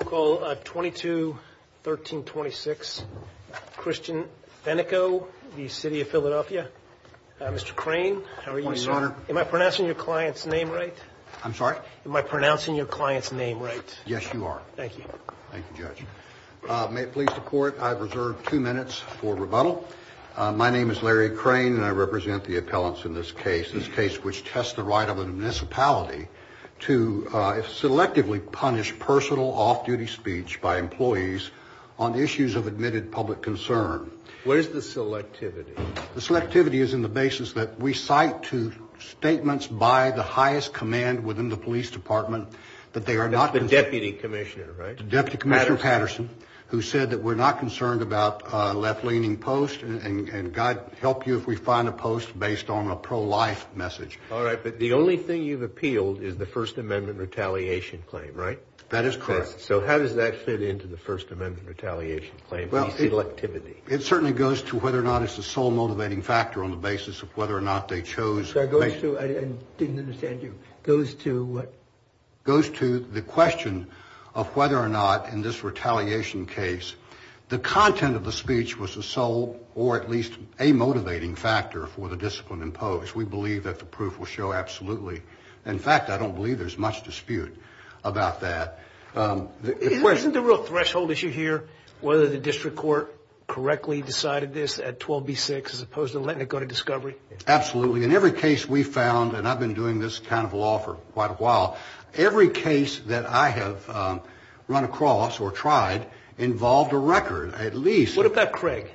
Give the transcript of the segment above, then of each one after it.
call 22 1326 Christian Benico the city of Philadelphia mr. crane how are you sir am I pronouncing your client's name right I'm sorry am I pronouncing your client's name right yes you are thank you thank you judge may it please the court I've reserved two minutes for rebuttal my name is Larry crane and I represent the appellants in this case this case which tests the right of an municipality to selectively punish personal off-duty speech by employees on the issues of admitted public concern where's the selectivity the selectivity is in the basis that we cite to statements by the highest command within the police department that they are not the deputy commissioner right deputy commissioner Patterson who said that we're not concerned about left-leaning post and God help you if we find a post based on a pro-life message all right but the only thing you've appealed is the First Amendment retaliation claim right that is correct so how does that fit into the First Amendment retaliation claim well selectivity it certainly goes to whether or not it's the sole motivating factor on the basis of whether or not they chose I didn't understand you goes to what goes to the question of whether or not in this retaliation case the content of the speech was the sole or at least a motivating factor for the discipline imposed we believe that the proof will go absolutely in fact I don't believe there's much dispute about that isn't the real threshold issue here whether the district court correctly decided this at 12 b6 as opposed to letting it go to discovery absolutely in every case we found and I've been doing this kind of law for quite a while every case that I have run across or tried involved a record at least what about Craig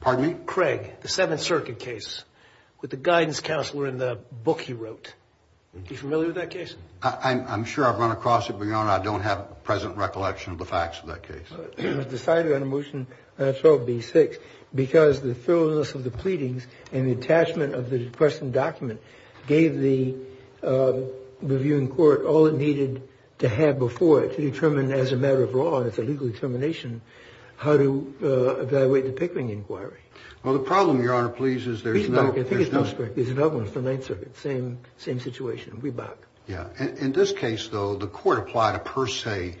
pardon me Craig the Seventh Circuit case with the guidance counselor in the book he wrote you familiar with that case I'm sure I've run across it beyond I don't have a present recollection of the facts of that case decided on a motion 12 b6 because the thoroughness of the pleadings and the attachment of the question document gave the reviewing court all it needed to have before it to determine as a matter of law and it's a legal determination how to evaluate the Pickering inquiry well the problem your honor please is there's no I think it's same situation we back yeah in this case though the court applied a per se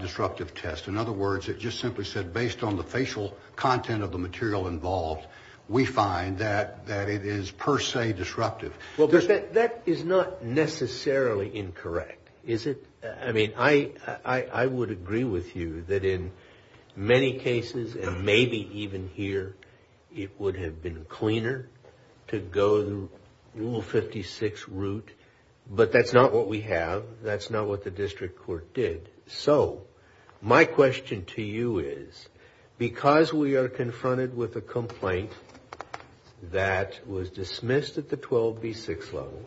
disruptive test in other words it just simply said based on the facial content of the material involved we find that that it is per se disruptive well there's that that is not necessarily incorrect is it I mean I I would agree with you that in many cases and maybe even here it would have been cleaner to go the rule 56 route but that's not what we have that's not what the district court did so my question to you is because we are confronted with a complaint that was dismissed at the 12 b6 level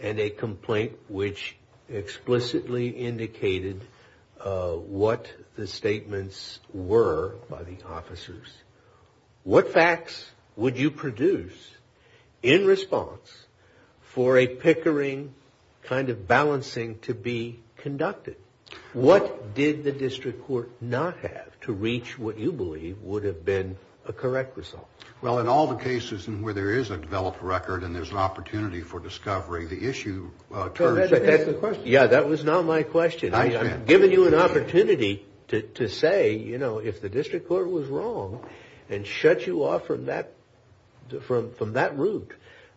and a complaint which explicitly indicated what the statements were by the officers what facts would you produce in response for a Pickering kind of balancing to be conducted what did the district court not have to reach what you believe would have been a correct result well in all the cases and where there is a developed record and there's an opportunity for discovery the issue yeah that was not my question I'm giving you an opportunity to say you know if the district court was wrong and shut you off from that route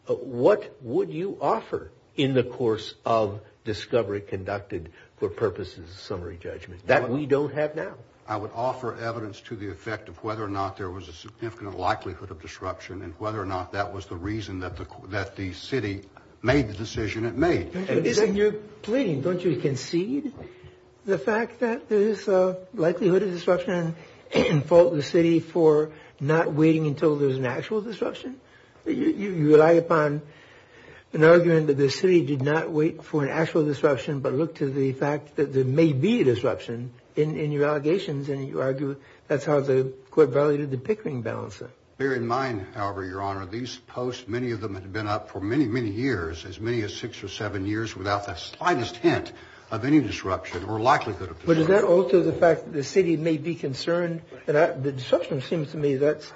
what would you offer in the course of discovery conducted for purposes summary judgment that we don't have now I would offer evidence to the effect of whether or not there was a significant likelihood of disruption and whether or not that was the reason that the that the city made the decision it made and isn't your plane don't you concede the fact that there is a likelihood of disruption and fault the city for not waiting until there's an actual disruption you rely upon an argument that the city did not wait for an actual disruption but look to the fact that there may be a disruption in your allegations and you argue that's how the court validated the Pickering balancer bear in mind however your honor these posts many of them had been up for many many years as many as six or seven years without the slightest hint of any disruption or likelihood but is that also the fact that the city may be seems to me that's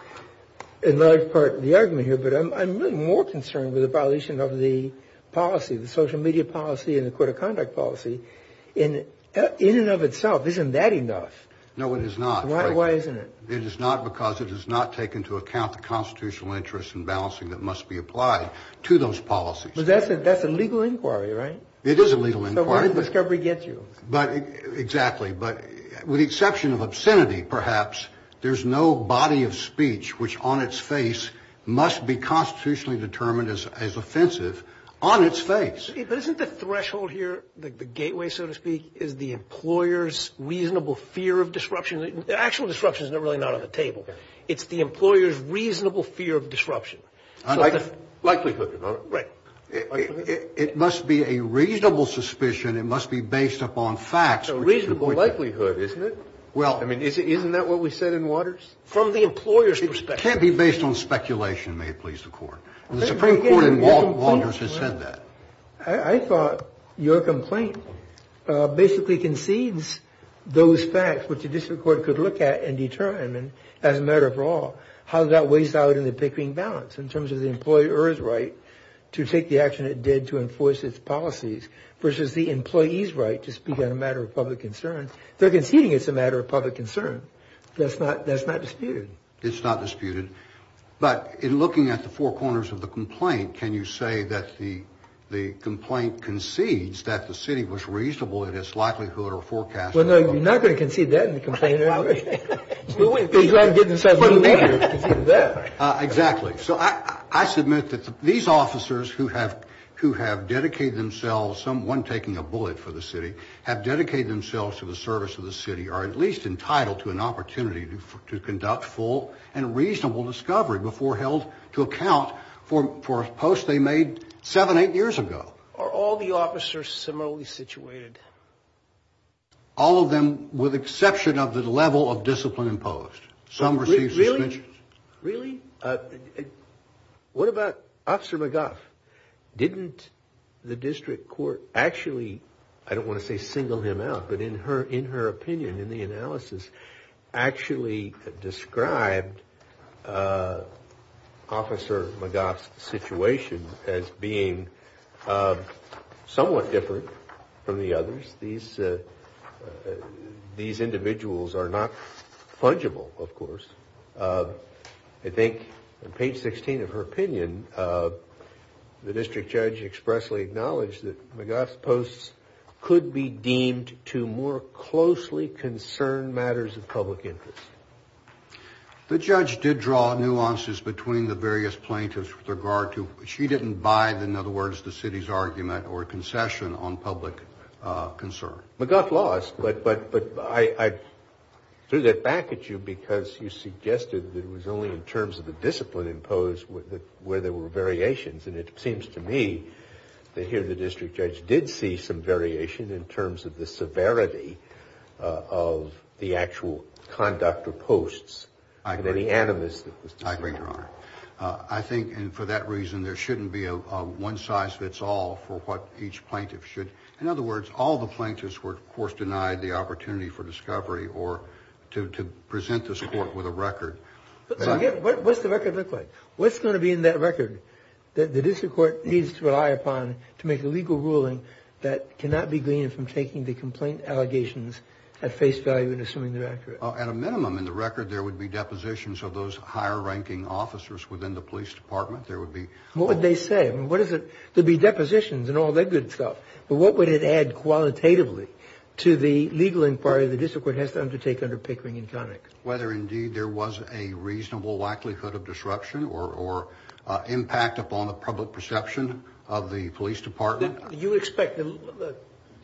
another part of the argument here but I'm more concerned with the violation of the policy the social media policy and the court of conduct policy in in and of itself isn't that enough no it is not why isn't it it is not because it does not take into account the constitutional interest in balancing that must be applied to those policies that's it that's a legal inquiry right it is a legal inquiry discovery gets you but exactly but with the exception of obscenity perhaps there's no body of speech which on its face must be constitutionally determined as as offensive on its face isn't the threshold here the gateway so to speak is the employers reasonable fear of disruption the actual destruction is not really not on the table it's the employers reasonable fear of disruption I like the likelihood right it must be a reasonable suspicion it must be based upon facts reasonable likelihood isn't it well I mean is it isn't that what we said in waters from the employer's perspective can't be based on speculation may it please the court the Supreme Court in Walters has said that I thought your complaint basically concedes those facts which a district court could look at and determine as a matter for all how that weighs out in the pickering balance in terms of the employer's right to take the action it did to enforce its policies versus the employees right to speak on a matter of public concerns they're conceding it's a matter of public concern that's not that's not disputed it's not disputed but in looking at the four corners of the complaint can you say that the the complaint concedes that the city was reasonable in its likelihood or forecast well no you're not going to concede that in the complaint exactly so I submit that these officers who have who have dedicated themselves someone taking a bullet for the city have dedicated themselves to the service of the city are at least entitled to an opportunity to conduct full and reasonable discovery before held to account for a post they made seven eight years ago are all the officers similarly situated all of them with exception of the level of discipline imposed some really really what about officer McGuff didn't the district court actually I don't want to say single him out but in her in her opinion in the analysis actually described officer McGuff's situation as being somewhat different from the others these these individuals are not fungible of course I think page 16 of her opinion the district judge could be deemed to more closely concern matters of public interest the judge did draw nuances between the various plaintiffs with regard to she didn't buy the in other words the city's argument or concession on public concern but got lost but but but I threw that back at you because you suggested that it was only in terms of the discipline imposed with where there were variations and it here the district judge did see some variation in terms of the severity of the actual conduct of posts I agree animus I think and for that reason there shouldn't be a one-size-fits-all for what each plaintiff should in other words all the plaintiffs were of course denied the opportunity for discovery or to present this court with a record what's the record look like what's going to be in that record that the district court needs to rely upon to make a legal ruling that cannot be gleaned from taking the complaint allegations at face value and assuming they're accurate at a minimum in the record there would be depositions of those higher ranking officers within the police department there would be what would they say what is it to be depositions and all that good stuff but what would it add qualitatively to the legal inquiry the district court has to undertake under Pickering and Connick whether indeed there was a reasonable likelihood of disruption or impact upon the public perception of the police department you expect the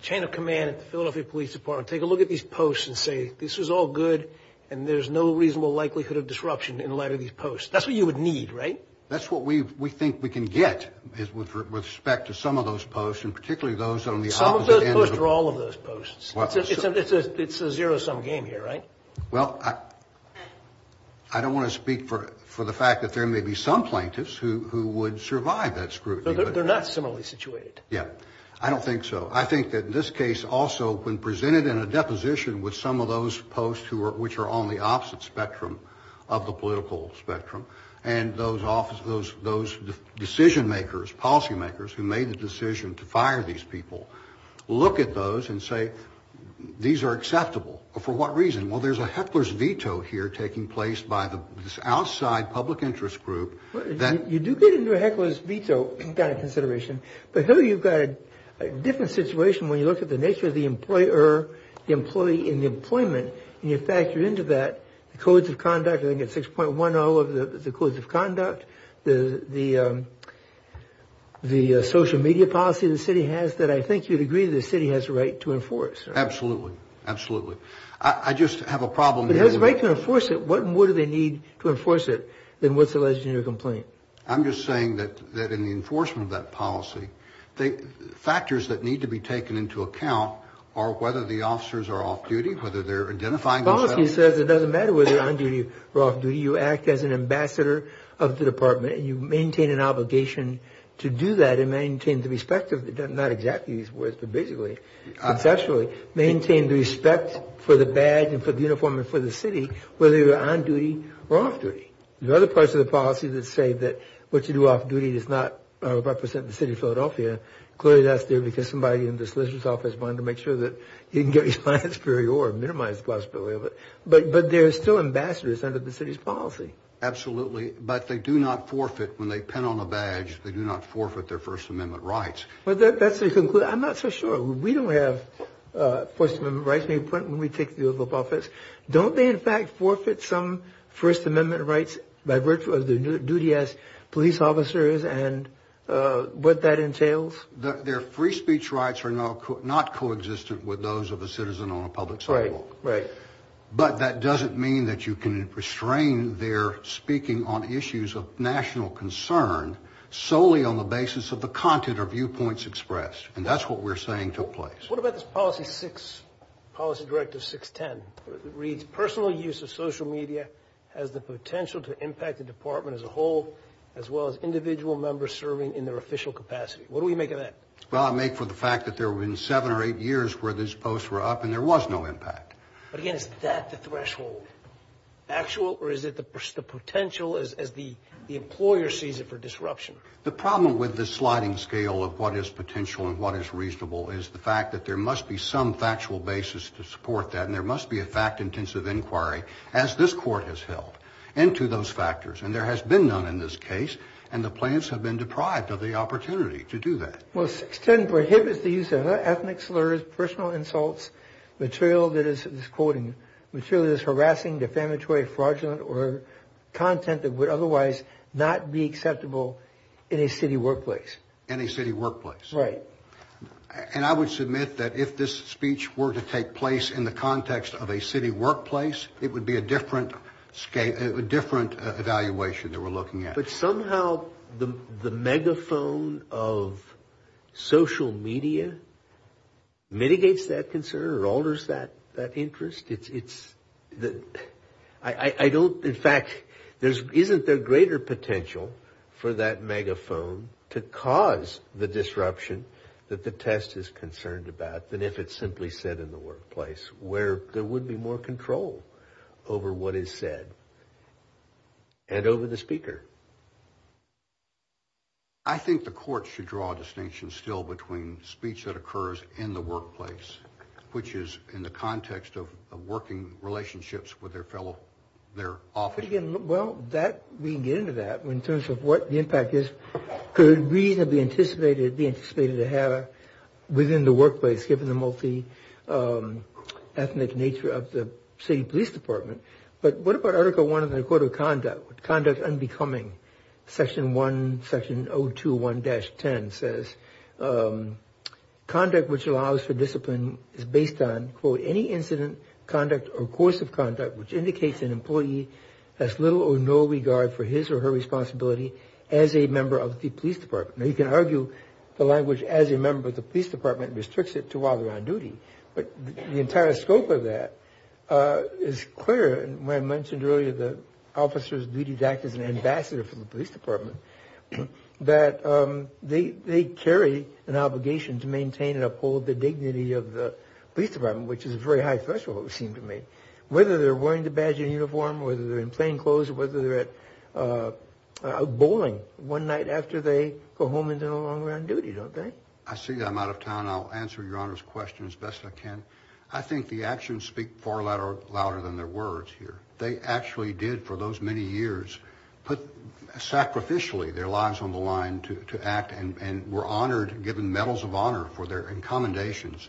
chain of command at the Philadelphia Police Department take a look at these posts and say this is all good and there's no reasonable likelihood of disruption in light of these posts that's what you would need right that's what we we think we can get is with respect to some of those posts and particularly those on the all of those posts it's a zero-sum game here right well I don't want to speak for the fact that there may be some plaintiffs who would survive that scrutiny they're not similarly situated yeah I don't think so I think that in this case also when presented in a deposition with some of those posts who are which are on the opposite spectrum of the political spectrum and those office those those decision makers policymakers who made the decision to say these are acceptable for what reason well there's a hecklers veto here taking place by the outside public interest group then you do get into a hecklers veto kind of consideration but here you've got a different situation when you look at the nature of the employer the employee in the employment and you factor into that the codes of conduct I think at 6.1 all of the codes of conduct the the the social media policy the city has that I think you'd city has a right to enforce absolutely absolutely I just have a problem it has a right to enforce it what more do they need to enforce it then what's the legislative complaint I'm just saying that that in the enforcement of that policy the factors that need to be taken into account are whether the officers are off-duty whether they're identifying policy says it doesn't matter whether they're on duty or off-duty you act as an ambassador of the department and you maintain an obligation to do that and maintain the respect of it does not exactly these words but basically it's actually maintain the respect for the badge and for the uniform and for the city whether you're on duty or off-duty there are other parts of the policy that say that what you do off-duty does not represent the city of Philadelphia clearly that's there because somebody in the solicitor's office wanted to make sure that you can get your license period or minimize the possibility of it but but they're still ambassadors under the city's policy absolutely but they do not forfeit when they pin on a badge they do not forfeit their First Amendment rights well that's the conclusion I'm not so sure we don't have First Amendment rights when we take the oath of office don't they in fact forfeit some First Amendment rights by virtue of their duty as police officers and what that entails their free speech rights are not co-existent with those of a citizen on a public sidewalk right but that doesn't mean that you can restrain their speaking on issues of national concern solely on the basis of the content or viewpoints expressed and that's what we're saying took place what about this policy six policy directive 610 reads personal use of social media has the potential to impact the department as a whole as well as individual members serving in their official capacity what do we make of that well I make for the fact that there were in seven or eight years where this post were up and there was no impact but again is that the threshold actual or is it the potential as the employer sees it for disruption the problem with the sliding scale of what is potential and what is reasonable is the fact that there must be some factual basis to support that and there must be a fact-intensive inquiry as this court has held into those factors and there has been none in this case and the plants have been deprived of the opportunity to do that well extend prohibits the use of ethnic slurs personal insults material that is quoting material is harassing defamatory fraudulent or content that would otherwise not be acceptable in a city workplace any city workplace right and I would submit that if this speech were to take place in the context of a city workplace it would be a different scape a different evaluation that we're looking at but somehow the the megaphone of social media mitigates that concern or alters that that interest it's it's the I don't in fact there's isn't there greater potential for that megaphone to cause the disruption that the test is concerned about than if it's simply said in the workplace where there would be more control over what is said and over the speaker I think the court should draw a distinction still between speech that in the context of working relationships with their fellow their office well that we get into that in terms of what the impact is good reason to be anticipated be anticipated to have within the workplace given the multi ethnic nature of the city police department but what about article one of the court of conduct conduct unbecoming section 1 section 0 2 1 dash 10 says conduct which allows for discipline is based on quote any incident conduct or course of conduct which indicates an employee has little or no regard for his or her responsibility as a member of the police department you can argue the language as a member of the police department restricts it to while they're on duty but the entire scope of that is clear and when I mentioned earlier the officers duties act as an ambassador for the police department that they they carry an obligation to maintain and uphold the dignity of the police department which is a very high threshold seem to me whether they're wearing the badge in uniform whether they're in plainclothes whether they're at bowling one night after they go home into the long run duty don't think I see I'm out of town I'll answer your honor's question as best I can I think the actions speak far louder louder than their words here they actually did for those many years put sacrificially their lives on the line to act and were honored given medals of honor for their in commendations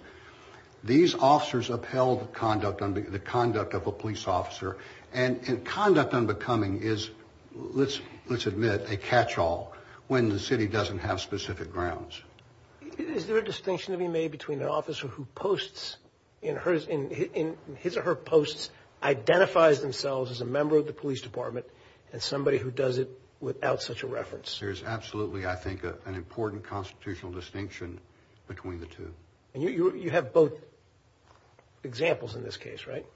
these officers upheld conduct on the conduct of a police officer and in conduct on becoming is let's let's admit a catch-all when the city doesn't have specific grounds is there a distinction to be made between an officer who posts in hers in his or her posts identifies themselves as a member of the police department and somebody who does it without such a reference there's absolutely I think an important constitutional distinction between the two you have both examples in this case right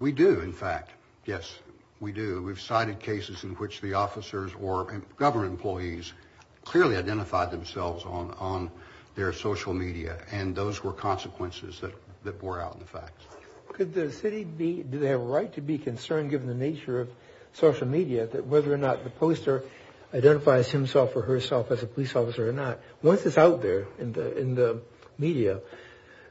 we do in fact yes we do we've cited cases in which the officers or government employees clearly identified themselves on on their social media and those were consequences that that bore out in the facts could the city be do they have a right to be concerned given the nature of social media that whether or not the poster identifies himself or herself as a police officer or not once it's out there in the in the media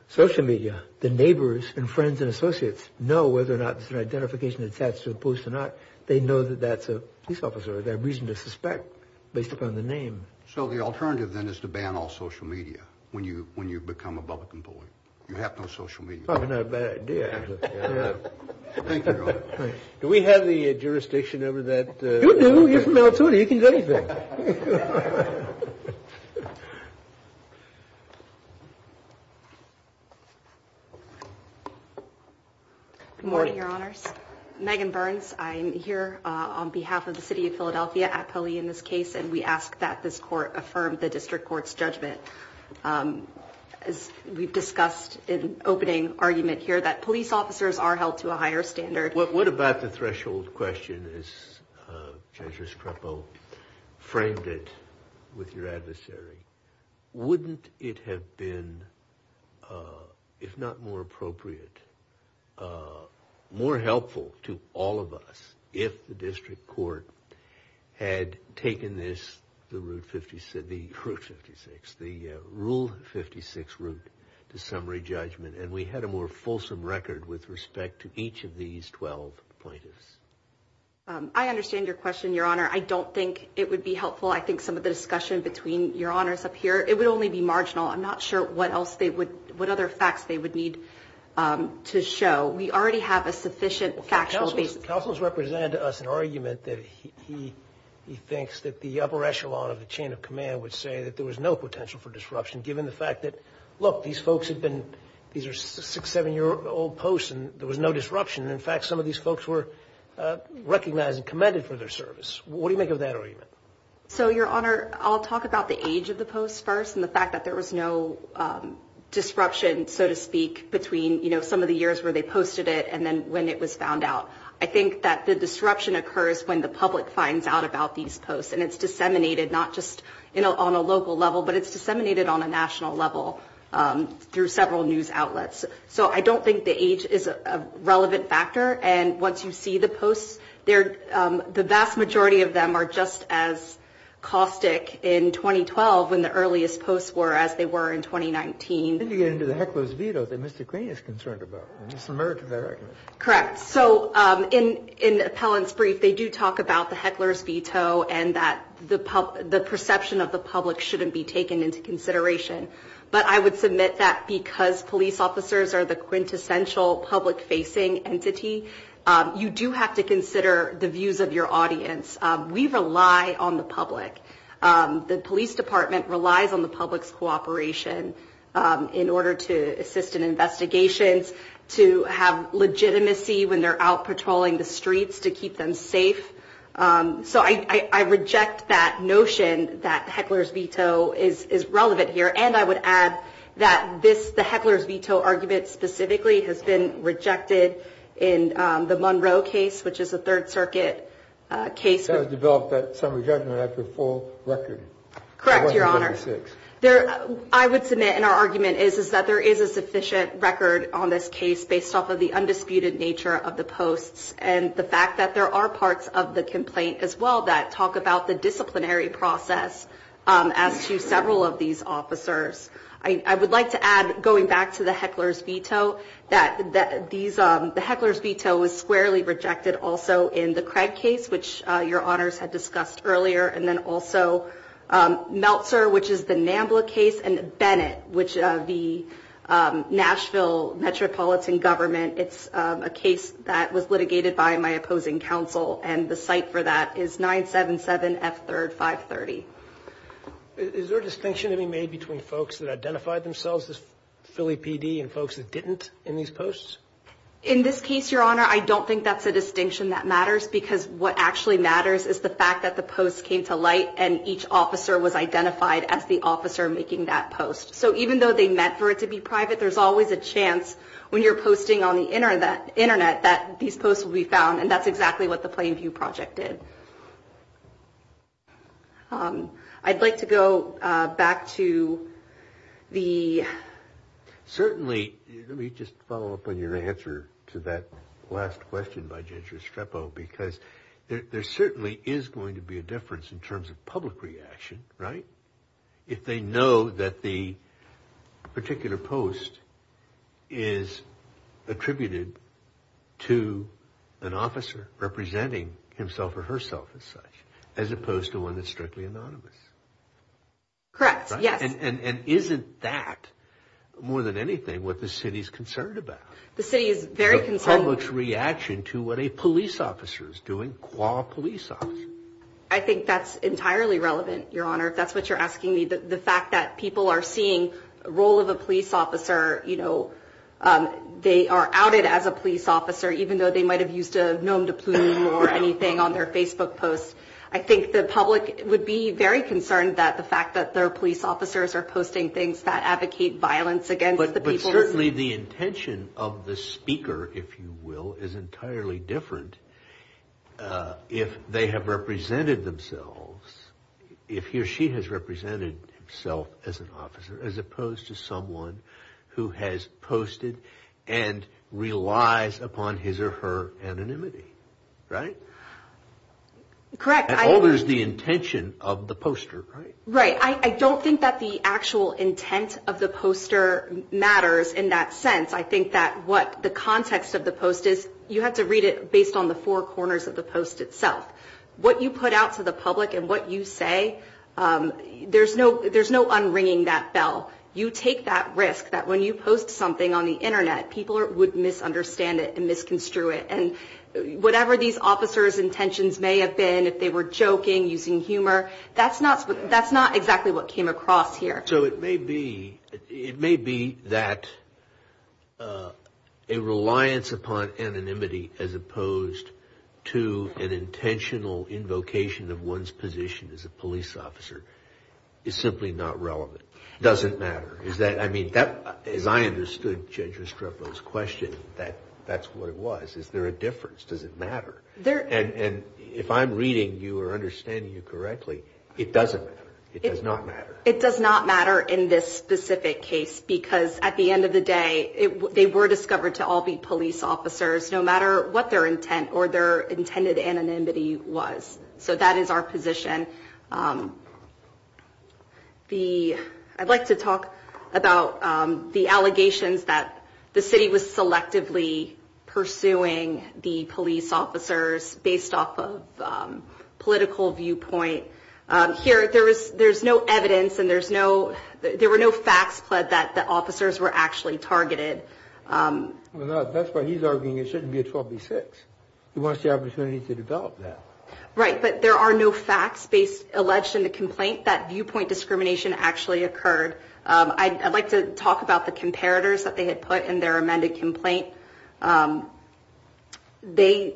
social media the neighbors and friends and associates know whether or not it's an identification attached to the post or not they know that that's a police officer that reason to suspect based upon the name so the alternative then is to ban all social media when you when you become a public employee you have no military you can go to your honors Megan Burns I'm here on behalf of the city of Philadelphia actually in this case and we ask that this court affirm the district courts judgment as we've discussed in opening argument here that police officers are held to a higher standard what about the threshold question is treasurer Scrappo framed it with your adversary wouldn't it have been if not more appropriate more helpful to all of us if the district court had taken this the route 50 said the proof 56 the rule 56 route to summary judgment and we had a more fulsome record with respect to each of these 12 I understand your question your honor I don't think it would be helpful I think some of the discussion between your honors up here it would only be marginal I'm not sure what else they would what other facts they would need to show we already have a sufficient argument that he he thinks that the upper echelon of the chain of command would say that there was no potential for disruption given the fact that look these folks have been these six seven-year-old post and there was no disruption in fact some of these folks were recognized and commended for their service what do you make of that argument so your honor I'll talk about the age of the post first and the fact that there was no disruption so to speak between you know some of the years where they posted it and then when it was found out I think that the disruption occurs when the public finds out about these posts and it's disseminated not just you know on a local level but it's disseminated on a national level through several news outlets so I don't think the age is a relevant factor and once you see the posts there the vast majority of them are just as caustic in 2012 when the earliest posts were as they were in 2019 you get into the heckler's veto that mr. Queen is concerned about correct so in in appellants brief they do talk about the heckler's veto and that the pub the perception of the public shouldn't be taken into consideration but I would submit that because police officers are the quintessential public facing entity you do have to consider the views of your audience we rely on the public the Police Department relies on the public's cooperation in order to assist in investigations to have legitimacy when they're out patrolling the streets to keep them safe so I reject that notion that heckler's veto is is relevant here and I would add that this the heckler's veto argument specifically has been rejected in the Monroe case which is a Third Circuit case developed at some judgment after full record correct your honor six there I would submit in our argument is is that there is a sufficient record on this case based off of the undisputed nature of the posts and the fact that there are parts of the complaint as well that talk about the disciplinary process as to several of these officers I I would like to add going back to the heckler's veto that that these are the heckler's veto was squarely rejected also in the Craig case which your honors had discussed earlier and then also Meltzer which is the Nambla case and Bennett which the Nashville metropolitan government it's a case that was litigated by my opposing counsel and the site for that is 977 F 3rd 530 is there a distinction to be made between folks that identify themselves as Philly PD and folks that didn't in these posts in this case your honor I don't think that's a distinction that matters because what actually matters is the fact that the post came to light and each officer was identified as the officer making that post so even though they meant for it to be private there's always a chance when you're posting on the internet internet that these posts will be found and that's exactly what the plain view project did I'd like to go back to the certainly let me just follow up on your answer to that last question by ginger strepo because there certainly is going to be a difference in terms of public reaction right if they know that the is attributed to an officer representing himself or herself as such as opposed to one that's strictly anonymous correct yes and isn't that more than anything what the city's concerned about the city is very concerned which reaction to what a police officer is doing qua police officer I think that's entirely relevant your honor if that's what you're asking me that the fact that people are seeing role of the police officer you know they are outed as a police officer even though they might have used a known to prove anything on their Facebook post I think the public would be very concerned that the fact that their police officers are posting things that advocate violence against the people leave the intention of the speaker if you will is entirely different if they have represented themselves if he or she has represented himself as an officer as a opposed to someone who has posted and relies upon his or her anonymity right correct there's the intention of the poster right I don't think that the actual intent of the poster matters in that sense I think that what the context of the post is you have to read it based on the four corners of the post itself what you put out to the public and what you say there's no there's no unringing that bell you take that risk that when you post something on the Internet people would misunderstand it and misconstrue it and whatever these officers intentions may have been if they were joking using humor that's not that's not exactly what came across here so it may be it may be that a reliance upon anonymity as opposed to an intentional invocation of one's position as a police officer is simply not relevant doesn't matter is that I mean that as I understood Judge Restrepo's question that that's what it was is there a difference does it matter there and and if I'm reading you or understanding you correctly it doesn't it does not matter it does not matter in this specific case because at the end of the day it they were discovered to all be police officers no matter what their intent or their intended anonymity was so that is our position the I'd like to talk about the allegations that the city was selectively pursuing the police officers based off of political viewpoint here there is there's no evidence and there's no there were no facts but that the officers were actually targeted that's what he's wants the opportunity to develop that right but there are no facts based alleged in the complaint that viewpoint discrimination actually occurred I'd like to talk about the comparators that they had put in their amended complaint they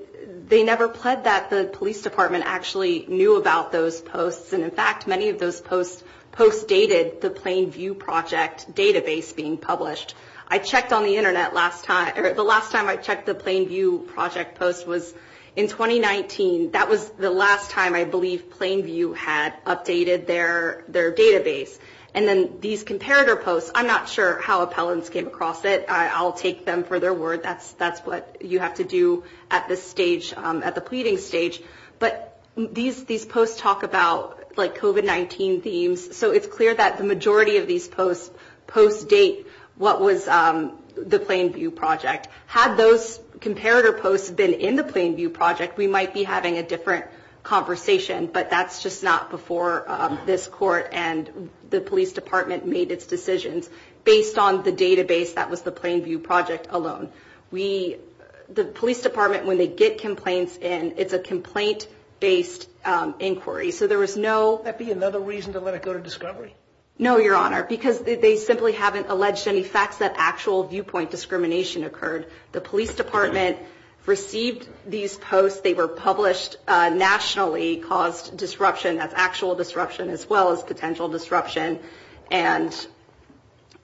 they never pled that the police department actually knew about those posts and in fact many of those posts post dated the Plainview project database being published I checked on the internet last time the last time I checked the Plainview project post was in 2019 that was the last time I believe Plainview had updated their their database and then these comparator posts I'm not sure how appellants came across it I'll take them for their word that's that's what you have to do at this stage at the pleading stage but these these posts talk about like kovat 19 themes so it's clear that the majority of these posts post date what was the Plainview project had those comparator posts been in the Plainview project we might be having a different conversation but that's just not before this court and the police department made its decisions based on the database that was the Plainview project alone we the police department when they get complaints and it's a complaint based inquiry so there was no another reason to let it go to discovery no your honor because they simply haven't alleged any facts that actual viewpoint discrimination occurred the police department received these posts they were published nationally caused disruption that's actual disruption as well as potential disruption and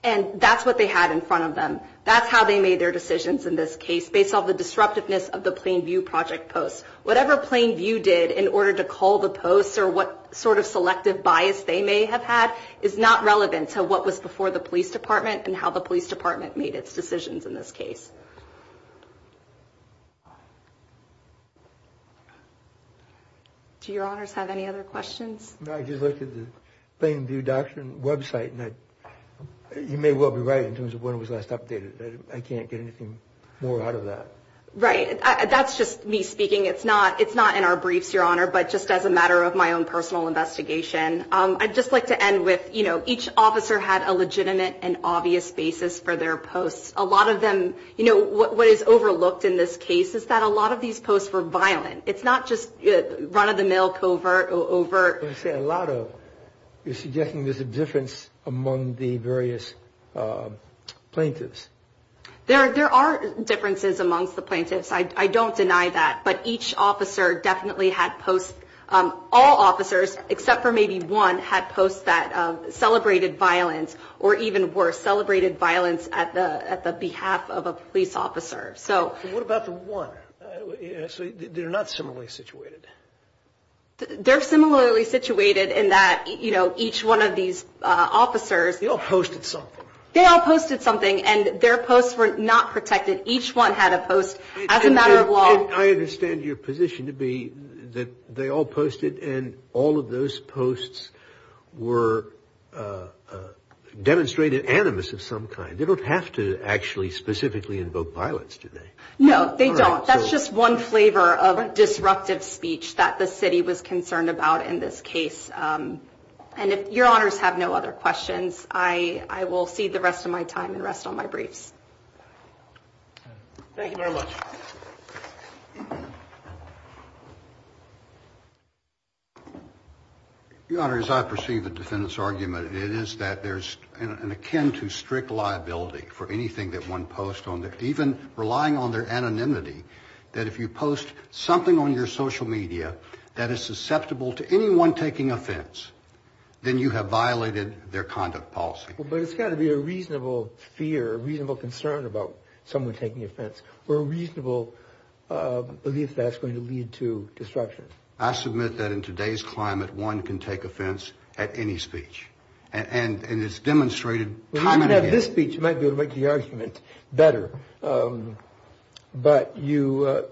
and that's what they had in front of them that's how they made their decisions in this case based off the disruptiveness of the Plainview project post whatever Plainview did in order to call the post or what sort of selective bias they may have had is not relevant to what was before the police department and how the police department made its decisions in this case do your honors have any other questions I just looked at the Plainview doctrine website and that you may well be right in terms of when it was last updated I can't get right that's just me speaking it's not it's not in our briefs your honor but just as a matter of my own personal investigation I'd just like to end with you know each officer had a legitimate and obvious basis for their posts a lot of them you know what what is overlooked in this case is that a lot of these posts were violent it's not just run-of-the-mill covert over a lot of there are differences amongst the plaintiffs I don't deny that but each officer definitely had post all officers except for maybe one had post that celebrated violence or even worse celebrated violence at the at the behalf of a police officer so they're not similarly situated they're similarly they all posted something and their posts were not protected each one had a post as a matter of law I understand your position to be that they all posted and all of those posts were demonstrated animus of some kind they don't have to actually specifically invoke violence today no they don't that's just one flavor of a disruptive speech that the city was concerned about in this case and if your honors have no other questions I I will see the rest of my time and rest on my briefs your honor as I perceive the defendant's argument it is that there's an akin to strict liability for anything that one post on there even relying on their anonymity that if you post something on your social media that is susceptible to anyone taking offense then you have violated their conduct policy but it's got to be a reasonable fear reasonable concern about someone taking offense or a reasonable belief that's going to lead to disruption I submit that in today's climate one can take offense at any speech and and it's demonstrated this speech might be able to make the argument better but you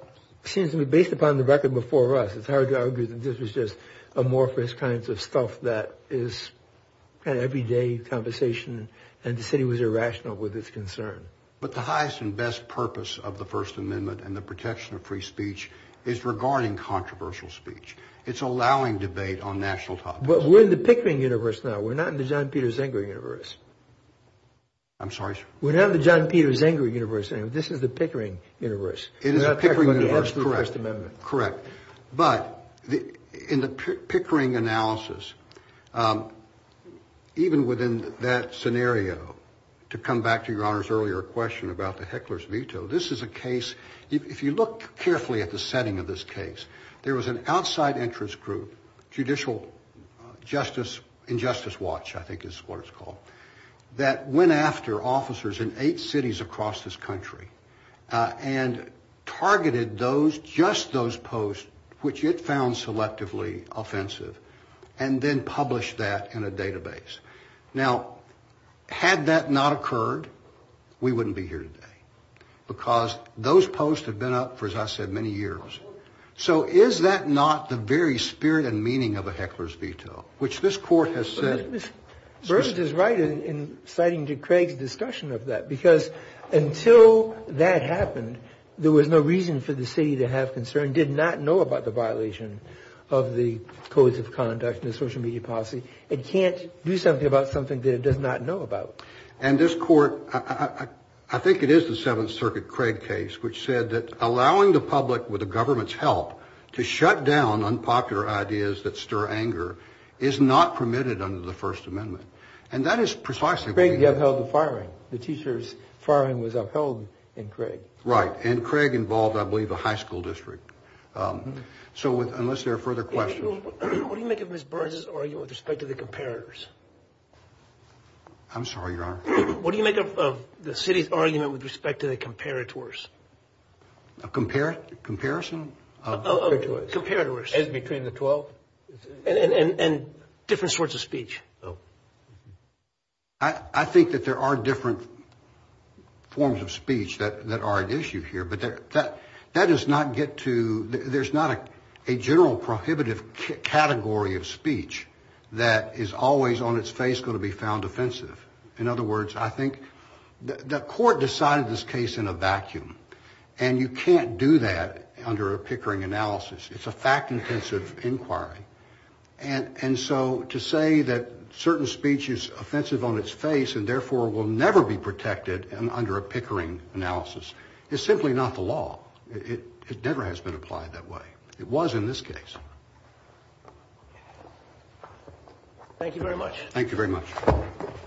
seem to be based upon the record before us it's hard to argue that this was just amorphous kinds of stuff that is an everyday conversation and the city was irrational with its concern but the highest and best purpose of the First Amendment and the protection of free speech is regarding controversial speech it's allowing debate on national top but we're in the Pickering universe now we're not in the John Peter Zenger universe I'm sorry we're not the John Peter Zenger universe and this is the Pickering universe it is a Pickering amendment correct but in the Pickering analysis even within that scenario to come back to your honor's earlier question about the hecklers veto this is a case if you look carefully at the setting of this case there was an outside interest group judicial justice injustice watch I think is what it's called that went after officers in eight cities across this country and targeted those just those posts which it found selectively offensive and then publish that in a database now had that not occurred we wouldn't be here today because those posts have been up for as I said many years so is that not the very spirit and meaning of a heckler's veto which this court has said versus right in citing to Craig's discussion of that because until that happened there was no reason for the city to have concern did not know about the violation of the codes of conduct in the social media policy it can't do something about something that it does not know about and this court I think it is the Seventh Circuit Craig case which said that allowing the public with the government's help to shut down unpopular ideas that stir anger is not permitted under the First Amendment and that is precisely Craig you have held the teachers firing was upheld in Craig right and Craig involved I believe a high school district so with unless there are further questions what do you make of Miss Burns's argument with respect to the comparators I'm sorry your honor what do you make of the city's argument with respect to the comparators a compare comparison as between the twelve and and different sorts of speech I think that there are different forms of speech that that are at issue here but there that that does not get to there's not a general prohibitive category of speech that is always on its face going to be found offensive in other words I think the court decided this case in a vacuum and you can't do that under a Pickering analysis it's a fact intensive inquiry and and so to say that certain speech is offensive on its face and therefore will never be protected and under a Pickering analysis is simply not the law it never has been applied that way it was in this case thank you very much thank you very much